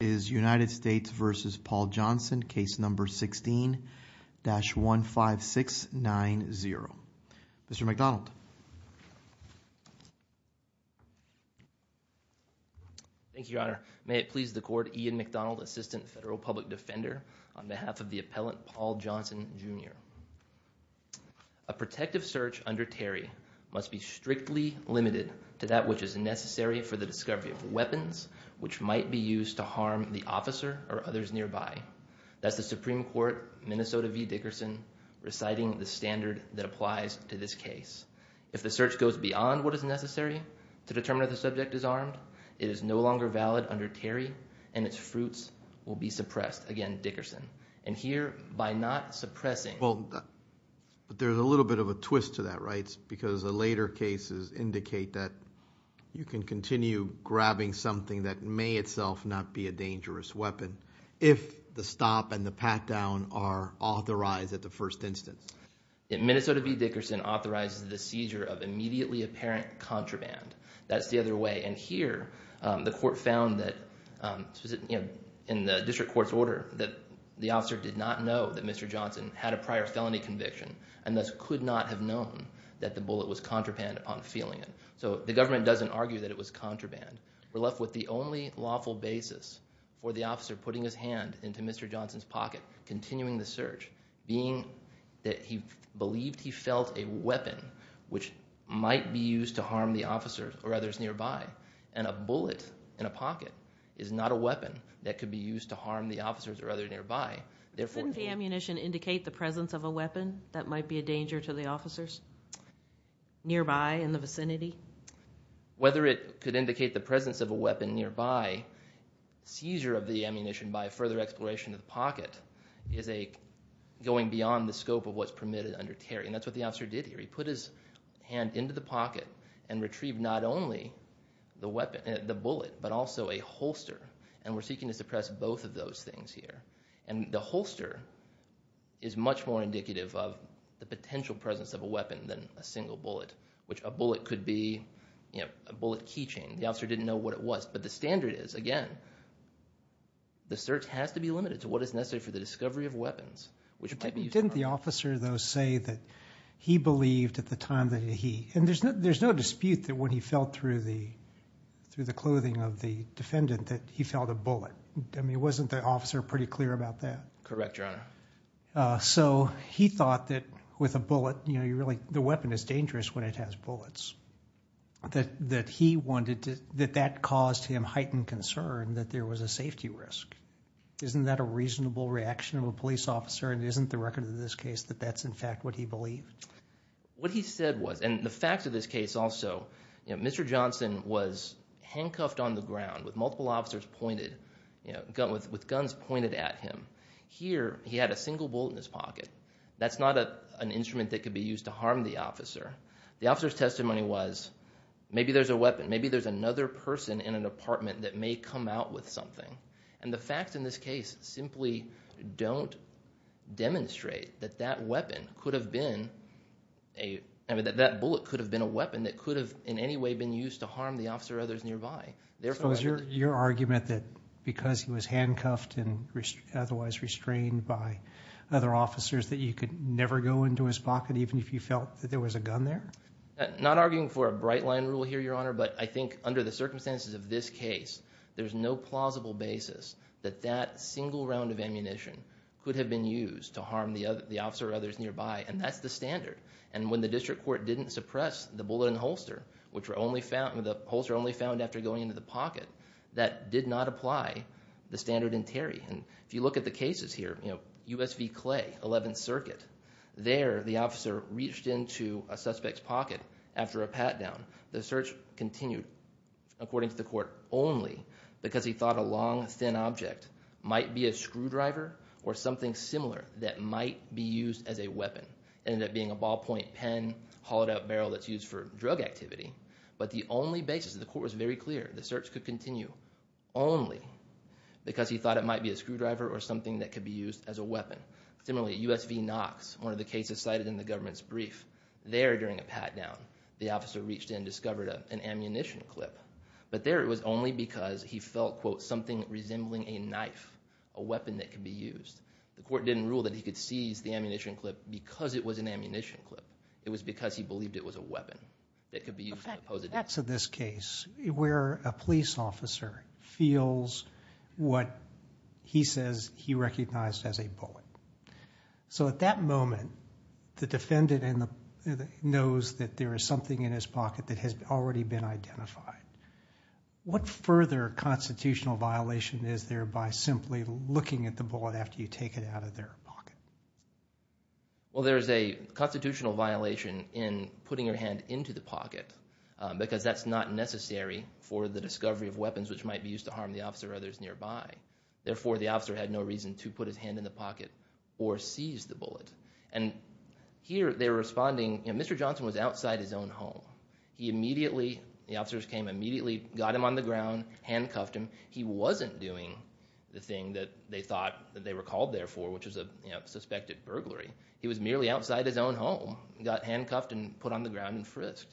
is United States versus Paul Johnson case number 16-15690. Mr. McDonald. Thank you, your honor. May it please the court, Ian McDonald, assistant federal public defender on behalf of the appellant Paul Johnson, Jr. A protective search under Terry must be strictly limited to that which is necessary for the discovery of weapons which might be used to harm the officer or others nearby. That's the Supreme Court, Minnesota v. Dickerson, reciting the standard that applies to this case. If the search goes beyond what is necessary to determine if the subject is armed, it is no longer valid under Terry and its fruits will be suppressed. Again, Dickerson. And here, by not suppressing... But there's a little bit of a twist to that, right? Because the later cases indicate that you can continue grabbing something that may itself not be a dangerous weapon if the stop and the pat down are authorized at the first instance. Minnesota v. Dickerson authorizes the seizure of immediately apparent contraband. That's the other way. And here, the court found that in the district court's order that the officer did not know that Mr. Johnson had a prior felony conviction and thus could not have known that the bullet was contraband upon feeling it. So the government doesn't argue that it was contraband. We're left with the only lawful basis for the officer putting his hand into Mr. Johnson's pocket, continuing the search, being that he believed he felt a weapon which might be used to harm the officers or others nearby. And a bullet in a pocket is not a weapon that could use to harm the officers or others nearby. Doesn't the ammunition indicate the presence of a weapon that might be a danger to the officers nearby in the vicinity? Whether it could indicate the presence of a weapon nearby, seizure of the ammunition by further exploration of the pocket is going beyond the scope of what's permitted under Terry. And that's what the officer did here. He put his hand into the pocket and retrieved not only the bullet but also a holster. And we're seeking to suppress both of those things here. And the holster is much more indicative of the potential presence of a weapon than a single bullet, which a bullet could be, you know, a bullet keychain. The officer didn't know what it was. But the standard is, again, the search has to be limited to what is necessary for the discovery of weapons, which might be used to harm. Didn't the officer, though, say that he believed at the time that he, and there's no dispute that when he felt through the clothing of the defendant that he felt a bullet. I mean, wasn't the officer pretty clear about that? Correct, Your Honor. So he thought that with a bullet, you know, the weapon is dangerous when it has bullets. That he wanted to, that that caused him heightened concern that there was a safety risk. Isn't that a reasonable reaction of a police officer? And isn't the record of this case that that's in fact what he believed? What he said was, and the facts of this case also, you know, Mr. Johnson was handcuffed on the ground with multiple officers pointed, you know, with guns pointed at him. Here he had a single bullet in his pocket. That's not an instrument that could be used to harm the officer. The officer's testimony was, maybe there's a weapon, maybe there's another person in an apartment that may come out with something. And the facts in this case simply don't demonstrate that that weapon could have been a, I mean, that that bullet could have been a weapon that could have in any way been used to harm the officer or others nearby. Therefore, was your argument that because he was handcuffed and otherwise restrained by other officers that you could never go into his pocket even if you felt that there was a gun there? Not arguing for a bright line rule here, Your Honor, but I think under the circumstances of this case, there's no plausible basis that that single round of ammunition could have been used to harm the officer or others nearby. And that's the standard. And when the district court didn't suppress the bullet and holster, which were only found, the holster only found after going into the pocket, that did not apply the standard in Terry. And if you look at the cases here, you know, USV Clay, 11th Circuit, there the officer reached into a suspect's pocket after a pat down. The search continued, according to the court, only because he thought a long, thin object might be a screwdriver or something similar that might be used as a weapon. Ended up being a ballpoint pen, hollowed out barrel that's used for drug activity. But the only basis, the court was very clear, the search could continue only because he thought it might be a screwdriver or something that could be used as a weapon. Similarly, USV Knox, one of the cases cited in the government's brief, there during a pat down, the officer reached in, discovered an something resembling a knife, a weapon that could be used. The court didn't rule that he could seize the ammunition clip because it was an ammunition clip. It was because he believed it was a weapon that could be used to pose a danger. That's in this case where a police officer feels what he says he recognized as a bullet. So at that moment, the defendant knows that there is something in his is there by simply looking at the bullet after you take it out of their pocket. Well, there's a constitutional violation in putting your hand into the pocket because that's not necessary for the discovery of weapons which might be used to harm the officer or others nearby. Therefore, the officer had no reason to put his hand in the pocket or seize the bullet. And here they're responding, Mr. Johnson was outside his own home. He immediately, the officers came immediately, got him on the ground, handcuffed him. He wasn't doing the thing that they thought that they were called there for, which was a suspected burglary. He was merely outside his own home, got handcuffed and put on the ground and frisked.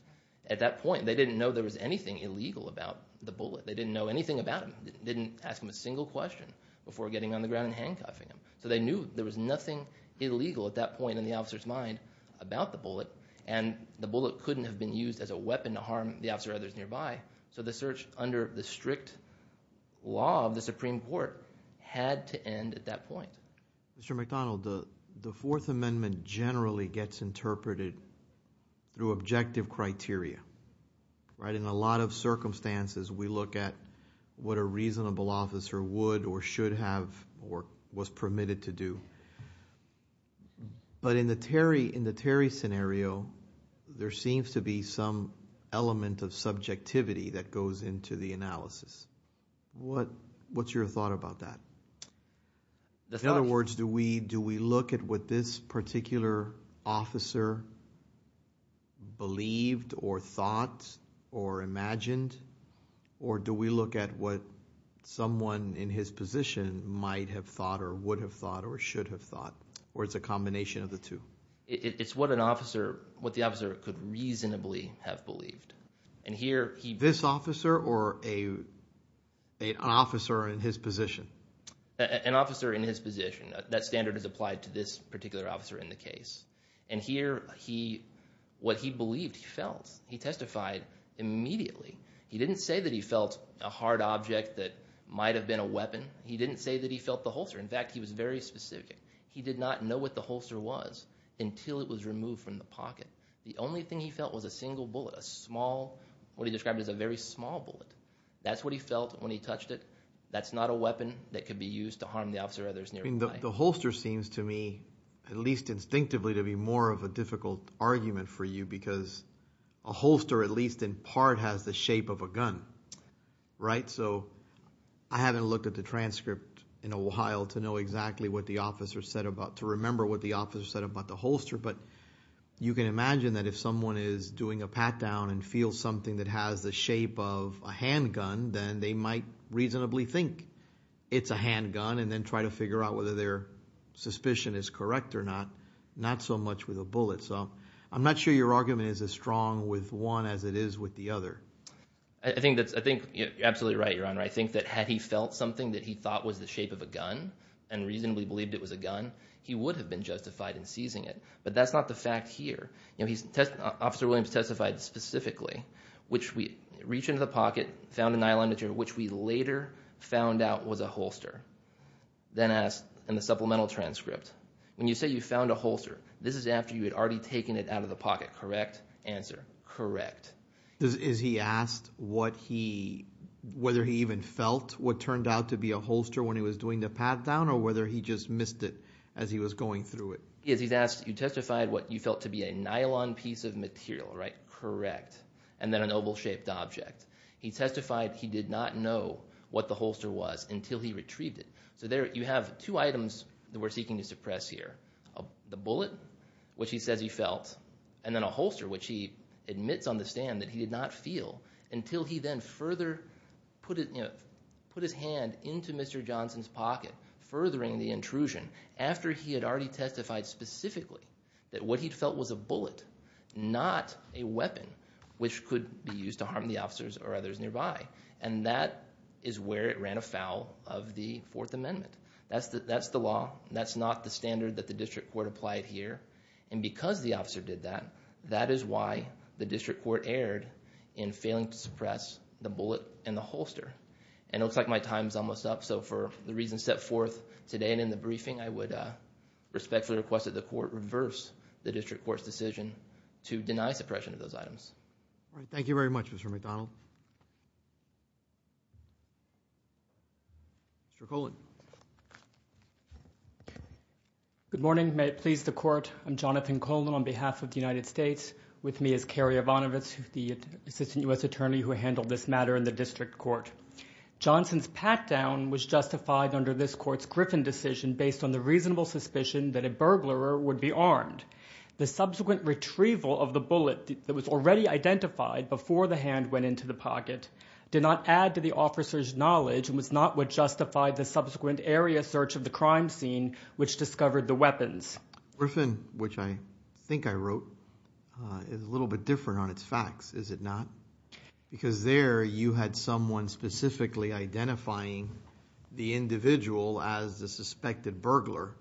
At that point, they didn't know there was anything illegal about the bullet. They didn't know anything about him, didn't ask him a single question before getting on the ground and handcuffing him. So they knew there was nothing illegal at that point in the officer's mind about the bullet and the bullet couldn't have been used as a weapon to harm the officer or others nearby. So the search under the strict law of the Supreme Court had to end at that point. Mr. McDonald, the Fourth Amendment generally gets interpreted through objective criteria, right? In a lot of circumstances, we look at what a reasonable officer would or should have or was permitted to do. But in the Terry scenario, there seems to be some element of subjectivity that goes into the analysis. What's your thought about that? In other words, do we look at what this particular officer believed or thought or imagined, or do we look at what someone in his position might have thought or would have thought or should have thought, or is it a combination of the two? It's what the officer could reasonably have believed. This officer or an officer in his position? An officer in his position. That standard is applied to this particular officer in the case. Here, what he believed, he felt. He testified immediately. He didn't say that he felt a hard object that might have been a weapon. He didn't say that he felt the holster. In fact, he was very specific. He did not know what the holster was until it was removed from the pocket. The only thing he felt was a single bullet, a small, what he described as a very small bullet. That's what he felt when he touched it. That's not a weapon that could be used to harm the officer or others nearby. The holster seems to me, at least instinctively, to be more of a difficult argument for you because a holster, at least in part, has the shape of a gun, right? I haven't looked at the transcript in a while to know exactly what the officer said about, to remember what the officer said about the holster, but you can imagine that if someone is doing a pat down and feels something that has the shape of a handgun, then they might reasonably think it's a handgun and then try to your argument is as strong with one as it is with the other. I think that's, I think you're absolutely right, your honor. I think that had he felt something that he thought was the shape of a gun and reasonably believed it was a gun, he would have been justified in seizing it, but that's not the fact here. You know, he's, Officer Williams testified specifically, which we reach into the pocket, found a nylon material, which we later found out was a holster, then asked in the supplemental transcript, when you say you found a holster, this is after you had already taken it out of the pocket, correct? Answer, correct. Is he asked what he, whether he even felt what turned out to be a holster when he was doing the pat down or whether he just missed it as he was going through it? Yes, he's asked, you testified what you felt to be a nylon piece of material, right? Correct. And then an oval shaped object. He testified he did not know what the holster was until he retrieved it. So there you have two items that we're seeking to suppress here. The bullet, which he says he felt, and then a holster, which he admits on the stand that he did not feel until he then further put it, you know, put his hand into Mr. Johnson's pocket, furthering the intrusion after he had already testified specifically that what he felt was a bullet, not a weapon, which could be used to harm the officers or others nearby. And that is where it ran afoul of the Fourth Amendment. That's the law. That's not the standard that the district court applied here. And because the officer did that, that is why the district court erred in failing to suppress the bullet and the holster. And it looks like my time is almost up. So for the reasons set forth today and in the briefing, I would respectfully request that the court reverse the district court's decision to deny suppression of those items. All right. Thank you very much, Mr. McDonald. Mr. Colan. Good morning. May it please the court. I'm Jonathan Colan on behalf of the United States. With me is Kerry Ivanovitz, the assistant U.S. attorney who handled this matter in the district court. Johnson's pat-down was justified under this court's Griffin decision based on the reasonable suspicion that a burglar would be armed. The subsequent retrieval of the into the pocket did not add to the officer's knowledge and was not what justified the subsequent area search of the crime scene, which discovered the weapons. Griffin, which I think I wrote, is a little bit different on its facts, is it not? Because there you had someone specifically identifying the individual as the suspected burglar.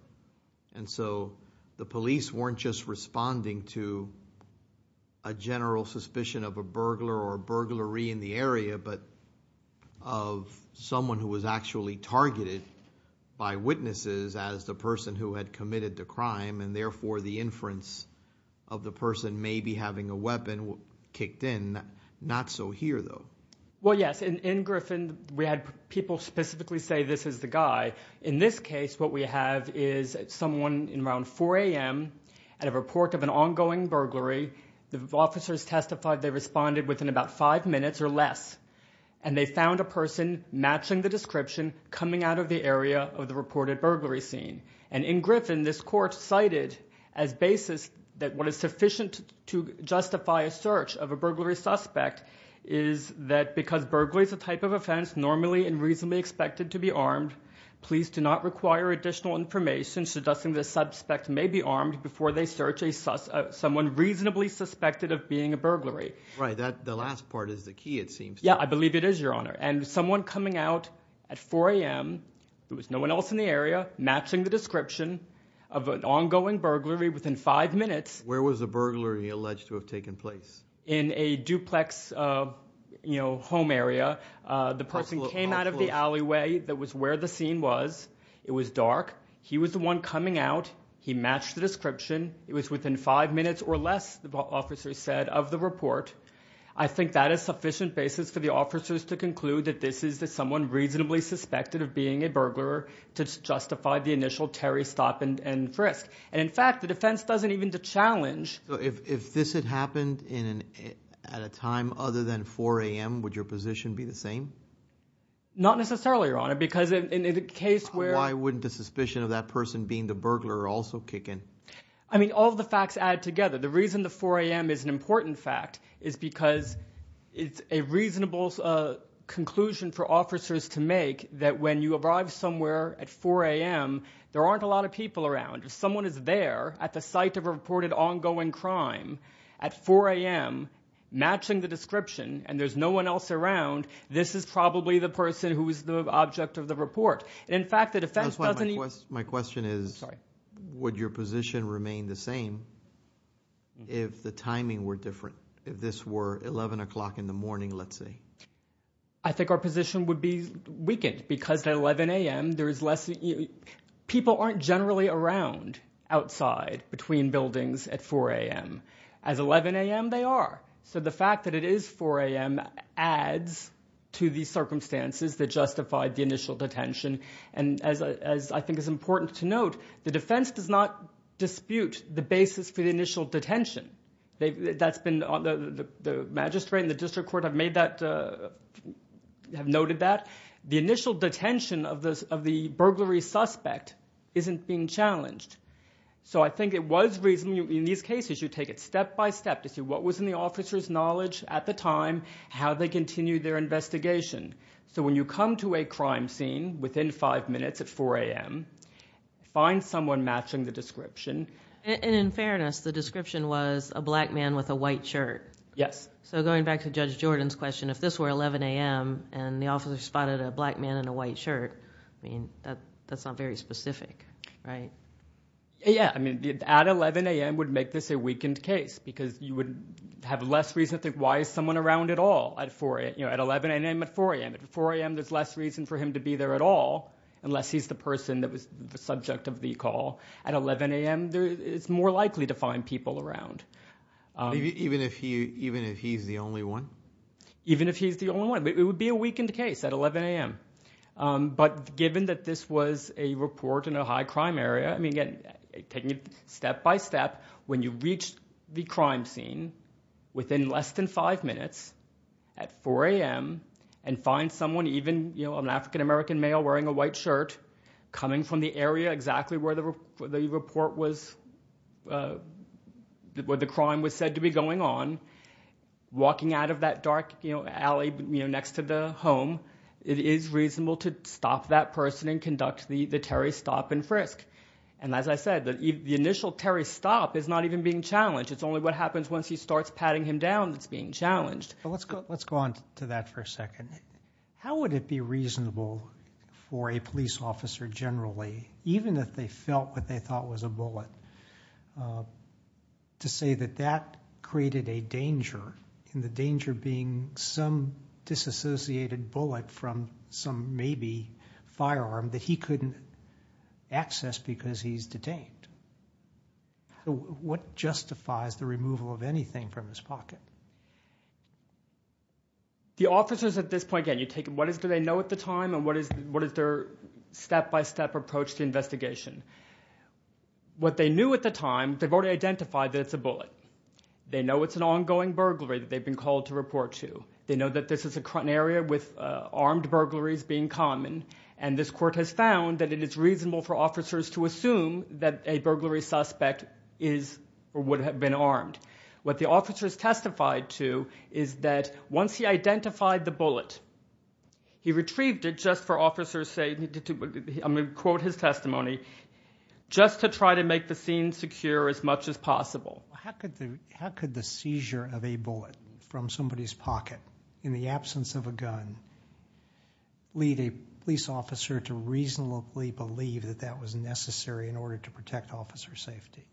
And so the police weren't just responding to a general suspicion of a burglar or burglary in the area, but of someone who was actually targeted by witnesses as the person who had committed the crime. And therefore, the inference of the person may be having a weapon kicked in. Not so here, though. Well, yes. In Griffin, we had people specifically say this is the guy. In this case, what we have is someone in around 4 a.m. at a report of an ongoing burglary. The officers testified they responded within about five minutes or less. And they found a person matching the description coming out of the area of the reported burglary scene. And in Griffin, this court cited as basis that what is sufficient to justify a search of a burglary suspect is that because burglary is a type of offense normally and reasonably expected to be armed, police do not require additional information suggesting the suspect may be armed before they search someone reasonably suspected of being a burglary. Right. The last part is the key, it seems. Yeah, I believe it is, Your Honor. And someone coming out at 4 a.m., there was no one else in the area, matching the description of an ongoing burglary within five minutes. Where was the burglary alleged to have taken place? In a duplex home area. The person came out of the alleyway. That was where the scene was. It was dark. He was the person coming out. He matched the description. It was within five minutes or less, the officers said, of the report. I think that is sufficient basis for the officers to conclude that this is that someone reasonably suspected of being a burglar to justify the initial Terry stop and frisk. And in fact, the defense doesn't even challenge... So if this had happened at a time other than 4 a.m., would your position be the same? Not necessarily, Your Honor, because in a case where... I mean, all the facts add together. The reason the 4 a.m. is an important fact is because it's a reasonable conclusion for officers to make that when you arrive somewhere at 4 a.m., there aren't a lot of people around. If someone is there at the site of a reported ongoing crime at 4 a.m., matching the description, and there's no one else around, this is probably the person who is the object of the report. And in fact, the defense doesn't even... My question is, would your position remain the same if the timing were different, if this were 11 o'clock in the morning, let's say? I think our position would be weakened because at 11 a.m., there is less... People aren't generally around outside between buildings at 4 a.m. As 11 a.m., they are. So the that justified the initial detention. And as I think is important to note, the defense does not dispute the basis for the initial detention. That's been... The magistrate and the district court have made that... Have noted that. The initial detention of the burglary suspect isn't being challenged. So I think it was reasonable... In these cases, you take it step-by-step to see what was in the investigation. So when you come to a crime scene within 5 minutes at 4 a.m., find someone matching the description. And in fairness, the description was a black man with a white shirt. Yes. So going back to Judge Jordan's question, if this were 11 a.m. and the officer spotted a black man in a white shirt, that's not very specific, right? Yeah. At 11 a.m. would make this a weakened case because you would have less reason to think, why is someone around at all at 11 a.m. and 4 a.m.? At 4 a.m., there's less reason for him to be there at all unless he's the person that was the subject of the call. At 11 a.m., it's more likely to find people around. Even if he's the only one? Even if he's the only one. It would be a weakened case at 11 a.m. But given that this was a report in a high crime area, I mean, taking it step by step, when you reach the crime scene within less than 5 minutes at 4 a.m. and find someone, even an African American male wearing a white shirt, coming from the area exactly where the crime was said to be going on, walking out of that dark alley next to the home, it is reasonable to stop that person and conduct the Terry stop and frisk. As I said, the initial Terry stop is not even being challenged. It's only what happens once he starts patting him down that's being challenged. Let's go on to that for a second. How would it be reasonable for a police officer generally, even if they felt what they thought was a bullet, to say that that created a danger, and the danger being some disassociated bullet from some maybe firearm that he couldn't access because he's detained? What justifies the removal of anything from his pocket? The officers at this point, again, you take what do they know at the time and what is their step-by-step approach to investigation. What they knew at the time, they've already identified that it's a bullet. They know it's an ongoing burglary that they've been called to report to. They know that this is an area with armed burglaries being common, and this court has found that it is reasonable for officers to assume that a burglary suspect is or would have been armed. What the officers testified to is that once he identified the bullet, he retrieved it just for officers safety. I'm going to quote his testimony, just to try to make the scene secure as much as possible. How could the seizure of a bullet from somebody's pocket in the absence of a gun lead a police officer to reasonably believe that that was necessary in order to protect officer safety?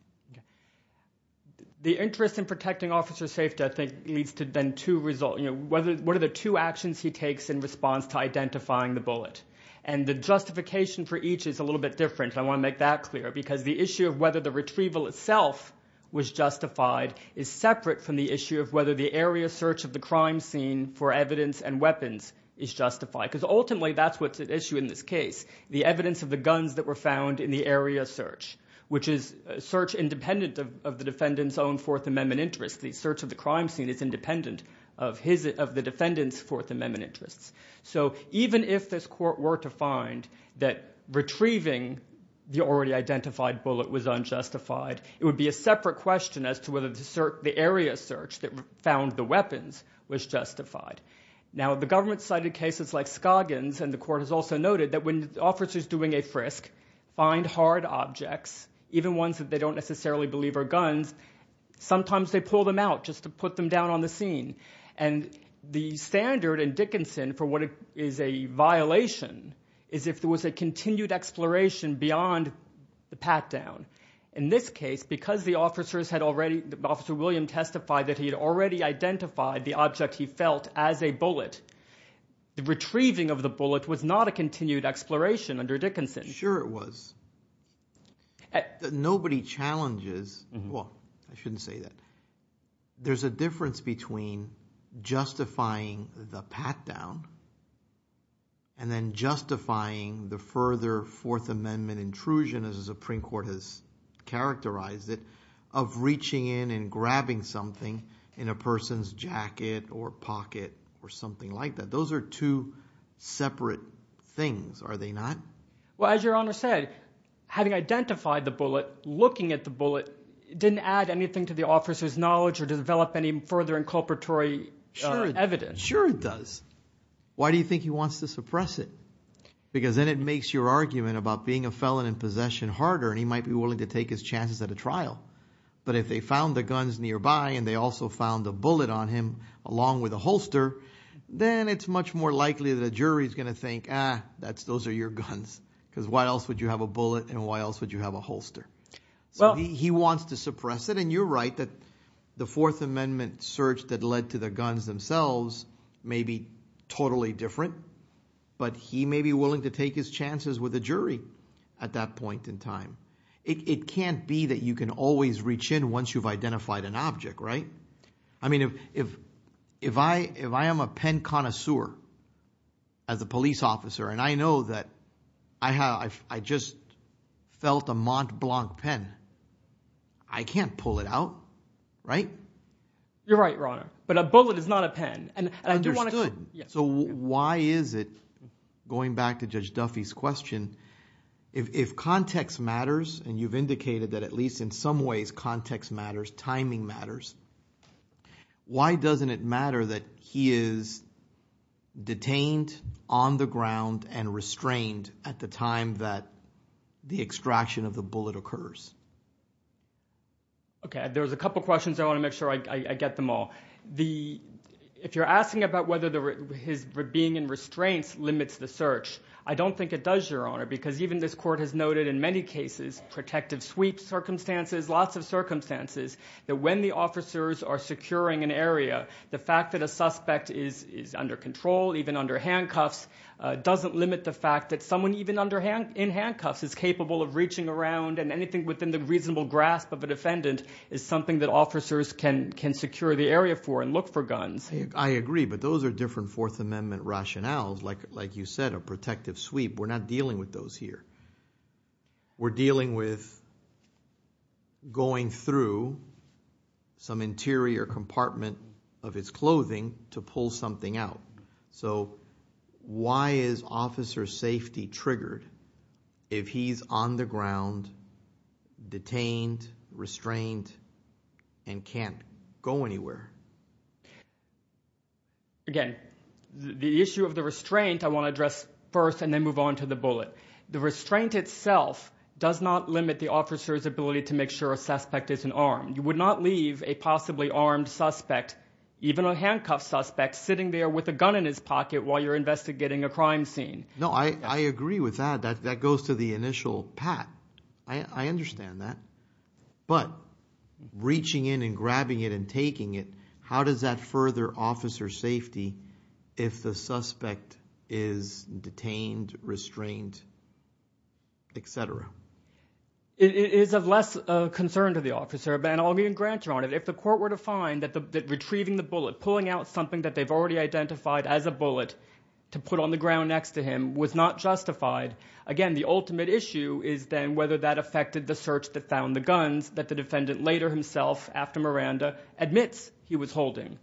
The interest in protecting officer safety, I think, leads to then two results. What are the two actions he takes in response to identifying the bullet? And the justification for each is a little bit different. I want to make that clear, because the issue of whether the retrieval itself was justified is separate from the issue of whether the area search of the crime scene for evidence and weapons is justified. Because ultimately, that's what's at issue in this case, the evidence of the guns that were found in the area search, which is search independent of the defendant's own Fourth Amendment interest. The search of the crime scene is independent of the defendant's Fourth Amendment interests. So even if this court were to find that retrieving the already identified bullet was unjustified, it would be a separate question as to whether the area search that found the weapons was justified. Now, the government cited cases like Scoggins, and the court has also noted that when officers doing a frisk find hard objects, even ones that they don't necessarily believe are guns, sometimes they pull them out just to put them down on the scene. And the standard in Dickinson for what is a violation is if there was a continued exploration beyond the pat-down. In this case, because the officers had already, Officer William testified that he had already identified the object he felt as a bullet, the retrieving of the bullet was not a continued exploration under Dickinson. Sure it was. Nobody challenges, well, I shouldn't say that. There's a difference between justifying the pat-down and then justifying the further Fourth Amendment intrusion, as the Supreme Court has characterized it, of reaching in and grabbing something in a person's jacket or pocket or something like that. Those are two separate things, are they not? Well, as your Honor said, having identified the bullet, looking at the bullet didn't add anything to the officer's knowledge or develop any further inculpatory evidence. Sure it does. Why do you think he wants to suppress it? Because then it makes your argument about being a felon in possession harder, and he might be willing to take his chances at a trial. But if they found the guns nearby and they also found a bullet on him, along with a holster, then it's much more likely that a jury is going to think, ah, those are your guns, because why else would you have a bullet and why else would you have a holster? Well, he wants to suppress it, and you're right that the Fourth Amendment search that led to the guns themselves may be totally different, but he may be willing to take his chances with a jury at that point in time. It can't be that you can always reach in once you've identified an object, right? I mean, if I am a pen connoisseur as a police officer, and I know that I just felt a Mont Blanc pen, I can't pull it out, right? You're right, Your Honor, but a bullet is not a pen. Understood. So why is it, going back to Judge Duffy's question, if context matters, and you've indicated that at least in some ways context matters, timing matters, why doesn't it matter that he is detained on the ground and restrained at the time that the extraction of the bullet occurs? Okay, there's a couple questions. I want to make sure I get them all. The, if you're asking about whether his being in restraints limits the search, I don't think it does, Your Honor, because even this court has noted in many cases, protective sweep circumstances, lots of circumstances, that when the officers are securing an area, the fact that a suspect is under control, even under handcuffs, doesn't limit the fact that someone even in handcuffs is capable of reaching around, and anything within the reasonable grasp of a defendant is something that officers can secure the area for and look for guns. I agree, but those are different Fourth Amendment rationales, like you said, a protective sweep. We're not dealing with those here. We're dealing with going through some interior compartment of his clothing to pull something out. So why is officer safety triggered if he's on the ground, detained, restrained, and can't go anywhere? Again, the issue of the restraint, I want to address first and then move on to the bullet. The restraint itself does not limit the officer's ability to make sure a suspect isn't armed. You would not leave a possibly armed suspect, even a handcuffed suspect, sitting there with a gun in his pocket while you're investigating a crime scene. No, I agree with that. That goes to the initial pat. I understand that. But reaching in and grabbing it and taking it, how does that further officer safety if the suspect is detained, restrained, et cetera? It is of less concern to the officer, and I'll even grant you on it. If the court were to find that retrieving the bullet, pulling out something that they've already identified as a bullet to put on the ground next to him was not justified, again, the ultimate issue is then whether that affected the search that found the guns that the defendant later himself, after Miranda, admits he was holding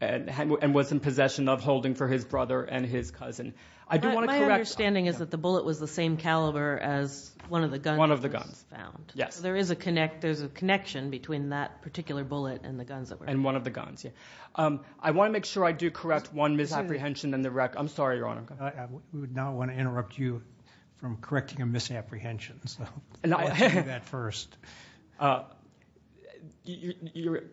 and was in possession of holding for his brother and his cousin. I do want to correct... My understanding is that the bullet was the same caliber as one of the guns found. Yes. So there is a connection between that particular bullet and the guns that were found. And one of the guns, yeah. I want to make sure I do correct one misapprehension in the record. I'm sorry, Your Honor. We would not want to interrupt you from correcting a misapprehension. So let's do that first.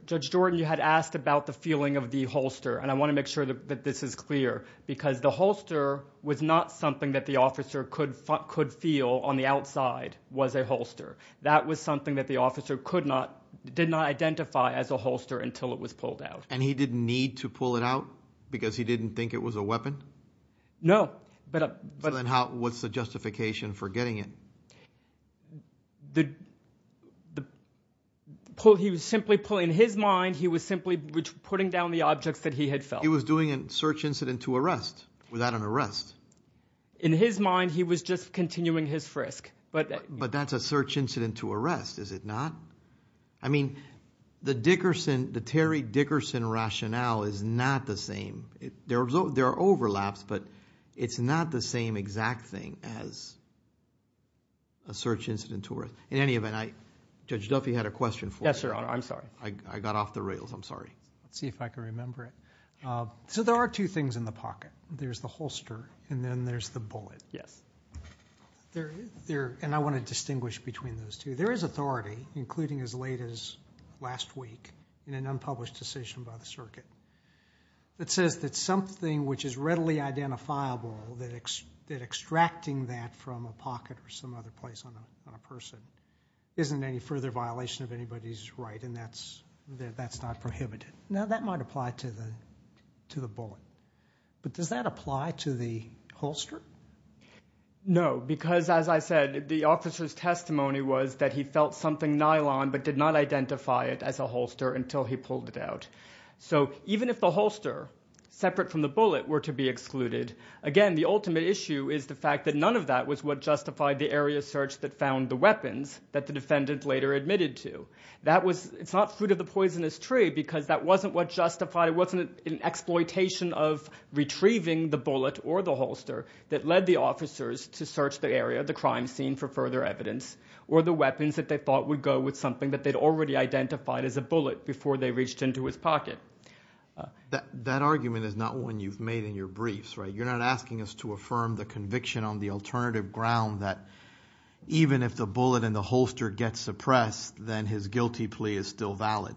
Judge Jordan, you had asked about the feeling of the holster. And I want to make sure that this is clear because the holster was not something that the officer could feel on the outside was a holster. That was something that the officer did not identify as a holster until it was pulled out. And he didn't need to pull it out because he didn't think it was a weapon? No, but... Then what's the justification for getting it? He was simply pulling... In his mind, he was simply putting down the objects that he had felt. He was doing a search incident to arrest without an arrest. In his mind, he was just continuing his frisk, but... But that's a search incident to arrest, is it not? I mean, the Dickerson, the Terry Dickerson rationale is not the same. There are overlaps, but it's not the same exact thing as a search incident to arrest. In any event, Judge Duffy had a question for you. Yes, Your Honor. I'm sorry. I got off the rails. I'm sorry. Let's see if I can remember it. So there are two things in the pocket. There's the holster and then there's the bullet. Yes. And I want to distinguish between those two. There is authority, including as late as last week in an unpublished decision by the circuit that says that something which is readily identifiable, that extracting that from a pocket or some other place on a person isn't any further violation of anybody's right, and that's not prohibited. Now, that might apply to the bullet, but does that apply to the holster? No, because as I said, the officer's testimony was that he felt something nylon, but did not identify it as a holster until he pulled it out. So even if the holster, separate from the bullet, were to be excluded, again, the ultimate issue is the fact that none of that was what justified the area search that found the weapons that the defendant later admitted to. That was, it's not fruit of the poisonous tree because that wasn't what justified, it wasn't an exploitation of retrieving the bullet or the holster that led the officers to search the area, the crime scene, for further evidence or the weapons that they thought would go with something that they'd already identified as a bullet before they reached into his pocket. That argument is not one you've made in your briefs, right? You're not asking us to affirm the conviction on the alternative ground that even if the bullet and the holster get suppressed, then his guilty plea is still valid.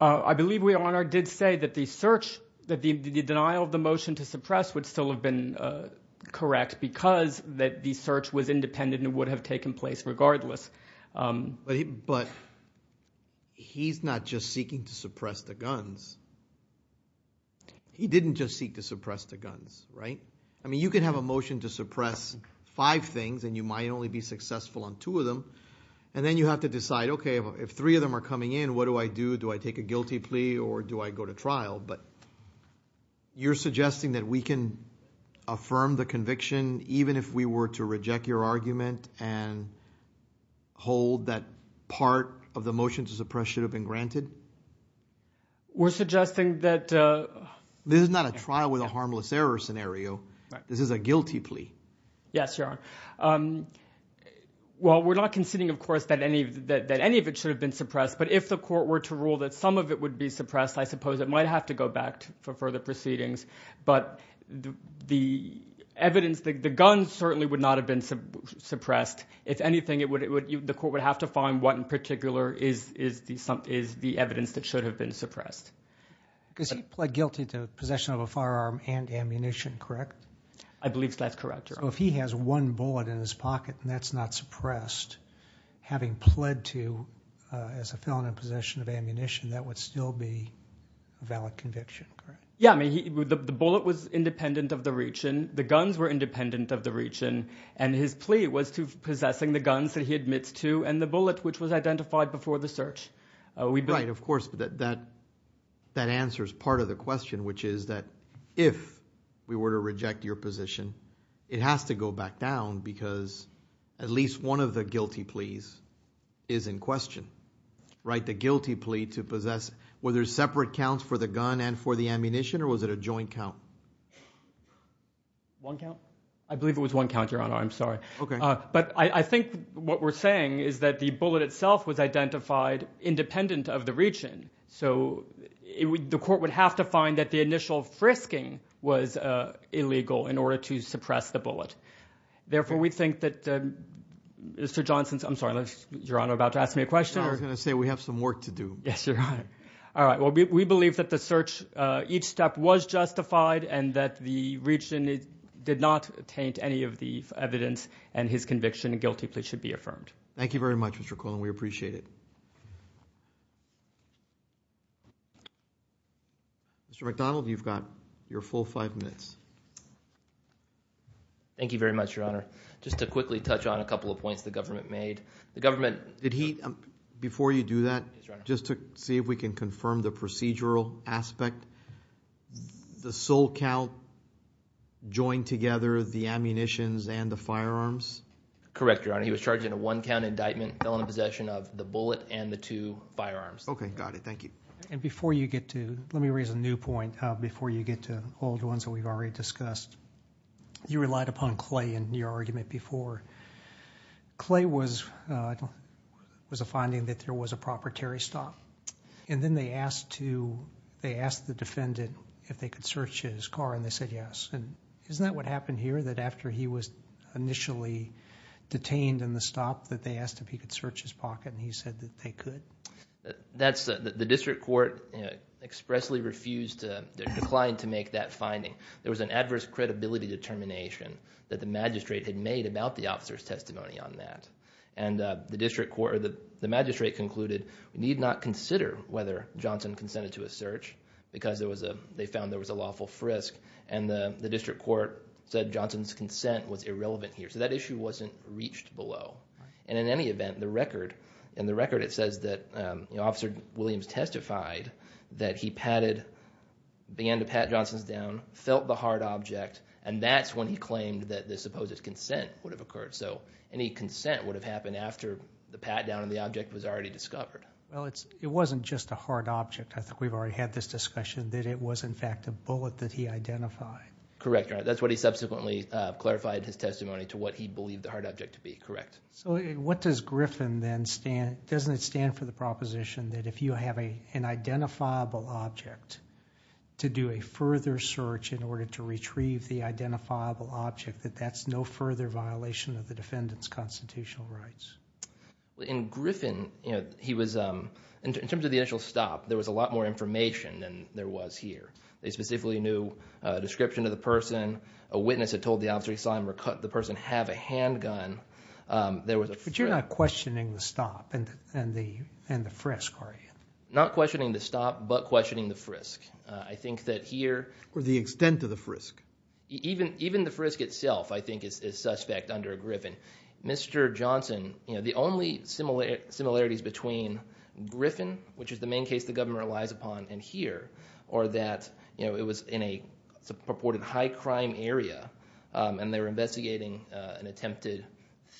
I believe Leonhardt did say that the search, that the denial of the motion to suppress would still have been correct because the search was independent and would have taken place regardless. But he's not just seeking to suppress the guns. He didn't just seek to suppress the guns, right? I mean, you can have a motion to suppress five things and you might only be successful on two of them and then you have to decide, okay, if three of them are coming in, what do I do? Do I take a guilty plea or do I go to trial? But you're suggesting that we can affirm the conviction even if we were to reject your argument and hold that part of the motion to suppress should have been granted? We're suggesting that... This is not a trial with a harmless error scenario. This is a guilty plea. Yes, Your Honor. Well, we're not conceding, of course, that any of it should have been suppressed. But if the court were to rule that some of it would be suppressed, I suppose it might have to go back for further proceedings. But the evidence... The guns certainly would not have been suppressed. If anything, the court would have to find what in particular is the evidence that should have been suppressed. Because he pled guilty to possession of a firearm and ammunition, correct? I believe that's correct, Your Honor. So if he has one bullet in his pocket and that's not suppressed, having pled to as a felon in possession of ammunition, that would still be a valid conviction, correct? Yeah, I mean, the bullet was independent of the region. The guns were independent of the region. And his plea was to possessing the guns that he admits to and the bullet which was identified before the search. Right, of course, but that answers part of the question, which is that if we were to reject your position, it has to go back down because at least one of the guilty pleas is in question, right? The guilty plea to possess, were there separate counts for the gun and for the ammunition, or was it a joint count? One count? I believe it was one count, Your Honor. I'm sorry. Okay. But I think what we're saying is that the bullet itself was identified independent of the region. So the court would have to find that the initial frisking was illegal in order to suppress the bullet. Therefore, we think that Mr. Johnson's... I'm sorry, Your Honor, about to ask me a question. I was going to say we have some work to do. Yes, Your Honor. All right. Well, we believe that the search, each step was justified and that the region did not taint any of the evidence and his conviction and guilty plea should be affirmed. Thank you very much, Mr. Colon. We appreciate it. Mr. McDonald, you've got your full five minutes. Thank you very much, Your Honor. Just to quickly touch on a couple of points the government made. The government... Did he... Before you do that, just to see if we can confirm the procedural aspect, the sole count joined together the ammunitions and the firearms? Correct, Your Honor. He was charged in a one count indictment, felon possession of the bullet and the two firearms. Okay, got it. Thank you. And before you get to... Let me raise a new point before you get to old ones that we've already discussed. You relied upon Clay in your argument before. Clay was a finding that there was a proprietary stop and then they asked the defendant if they could search his car and they said yes. And isn't that what happened here, that after he was initially detained in the stop, that they asked if he could search his pocket and he said that they could? The district court expressly refused to... Declined to make that finding. There was an adverse credibility determination that the magistrate had made about the officer's testimony on that. And the magistrate concluded, we need not consider whether Johnson consented to a search because they found there was a lawful frisk and the district court said Johnson's consent was irrelevant here. So that issue wasn't reached below. And in any event, in the record it says that Officer Williams testified that he began to pat Johnson's down, felt the hard object, and that's when he claimed that the supposed consent would have occurred. So any consent would have happened after the pat down on the object was already discovered. Well, it wasn't just a hard object. I think we've already had this discussion that it was in fact a bullet that he identified. Correct, that's what he subsequently clarified his testimony to what he believed the hard object to be, correct. So what does Griffin then stand... Doesn't it stand for the proposition that if you have an identifiable object to do a further search in order to retrieve the identifiable object, that that's no further violation of the defendant's constitutional rights? In Griffin, he was... In terms of the initial stop, there was a lot more information than there was here. They specifically knew a description of the person, a witness had told the officer he saw him recut, the person have a handgun, there was a... But you're not questioning the stop and the frisk, are you? Not questioning the stop, but questioning the frisk. I think that here... Or the extent of the frisk. Even the frisk itself, I think, is suspect under Griffin. Mr. Johnson, the only similarities between Griffin, which is the main case the government relies upon, and here are that it was in a purported high crime area and they were investigating an attempted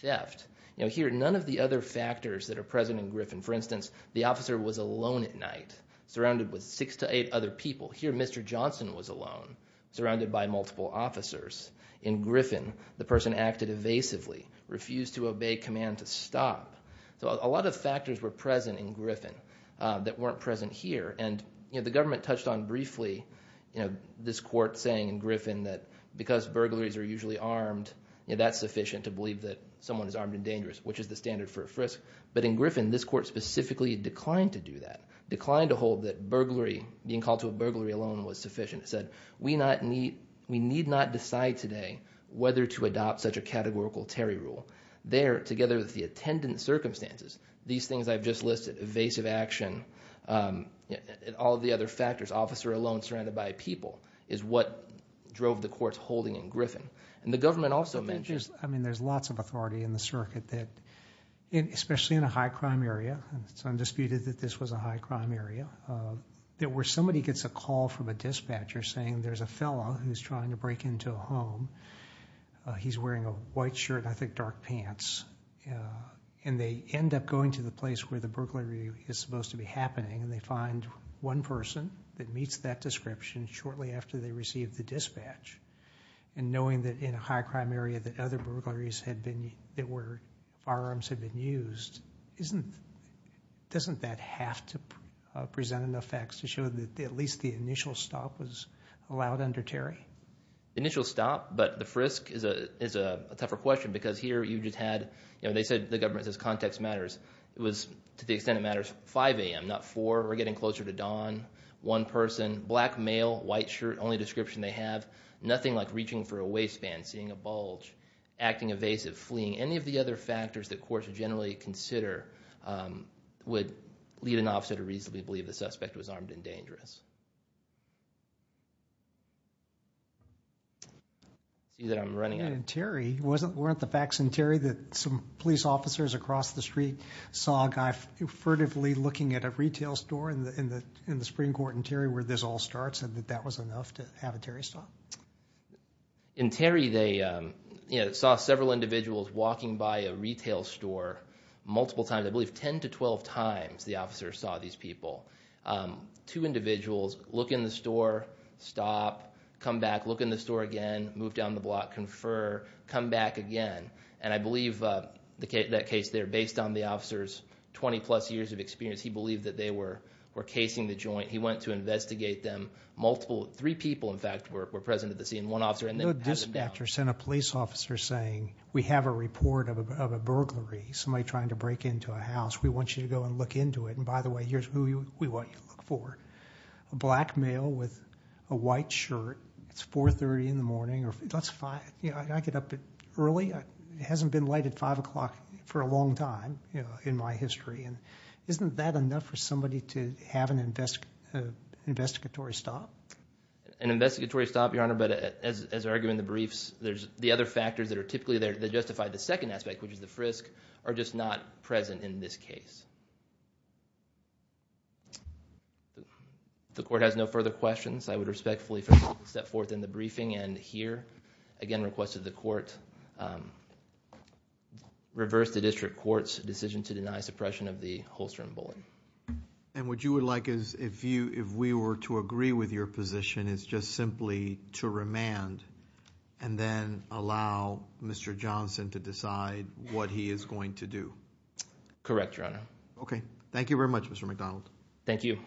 theft. Here, none of the other factors that are present in Griffin. For instance, the officer was alone at night, surrounded with six to eight other people. Here, Mr. Johnson was alone, surrounded by multiple officers. In Griffin, the person acted evasively, refused to obey command to stop. So a lot of factors were present in Griffin that weren't present here. And the government touched on briefly, this court saying in Griffin that because burglaries are usually armed, that's sufficient to believe that someone is armed and dangerous, which is the standard for a frisk. But in Griffin, this court specifically declined to do that, declined to hold that burglary, being called to a burglary alone was sufficient. It said, we need not decide today whether to adopt such a categorical Terry rule. There, together with the attendant circumstances, these things I've just listed, evasive action, all of the other factors, officer alone, surrounded by people, is what drove the court's holding in Griffin. And the government also mentioned... I mean, there's lots of authority in the circuit that, especially in a high crime area, it's undisputed that this was a high crime area, that where somebody gets a call from a dispatcher saying there's a fellow who's trying to break into a home, he's wearing a white shirt and I think dark pants. And they end up going to the place where the burglary is supposed to be happening. And they find one person that meets that description shortly after they received the dispatch. And knowing that in a high crime area that other burglaries had been, that where firearms had been used, doesn't that have to present enough facts to show that at least the initial stop was allowed under Terry? Initial stop, but the frisk is a tougher question because here you just had... They said the government says context matters. It was, to the extent it matters, 5 a.m., not 4. We're getting closer to dawn. One person, black male, white shirt, only description they have. Nothing like reaching for a waistband, seeing a bulge, acting evasive, fleeing. Any of the other factors that courts would generally consider would lead an officer to reasonably believe the suspect was armed and dangerous. See that I'm running out of... In Terry, weren't the facts in Terry that some police officers across the street saw a guy furtively looking at a retail store in the Supreme Court in Terry where this all starts and that that was enough to have a Terry stop? In Terry, they saw several individuals walking by a retail store multiple times. I believe 10 to 12 times the officers saw these people. Two individuals look in the store, stop, come back, look in the store again, move down the block, confer, come back again. And I believe that case there, based on the officer's 20 plus years of experience, he believed that they were casing the joint. He went to investigate them. Three people, in fact, were present at the scene. One officer... No dispatcher sent a police officer saying, we have a report of a burglary. Somebody trying to break into a house. We want you to go and look into it. And by the way, here's who we want you to look for. A black male with a white shirt. It's 4.30 in the morning. I get up early. It hasn't been light at five o'clock for a long time in my history. Isn't that enough for somebody to have an investigatory stop? An investigatory stop, Your Honor, but as I argue in the briefs, there's the other factors that are typically there that justify the second aspect, which is the frisk, are just not present in this case. The court has no further questions. I would respectfully step forth in the briefing. And here, again, requested the court reverse the district court's decision to deny suppression of the Holstrom bullying. And what you would like is if we were to agree with your position, it's just simply to remand and then allow Mr. Johnson to decide what he is going to do. Correct, Your Honor. Okay. Thank you very much, Mr. McDonald. Thank you.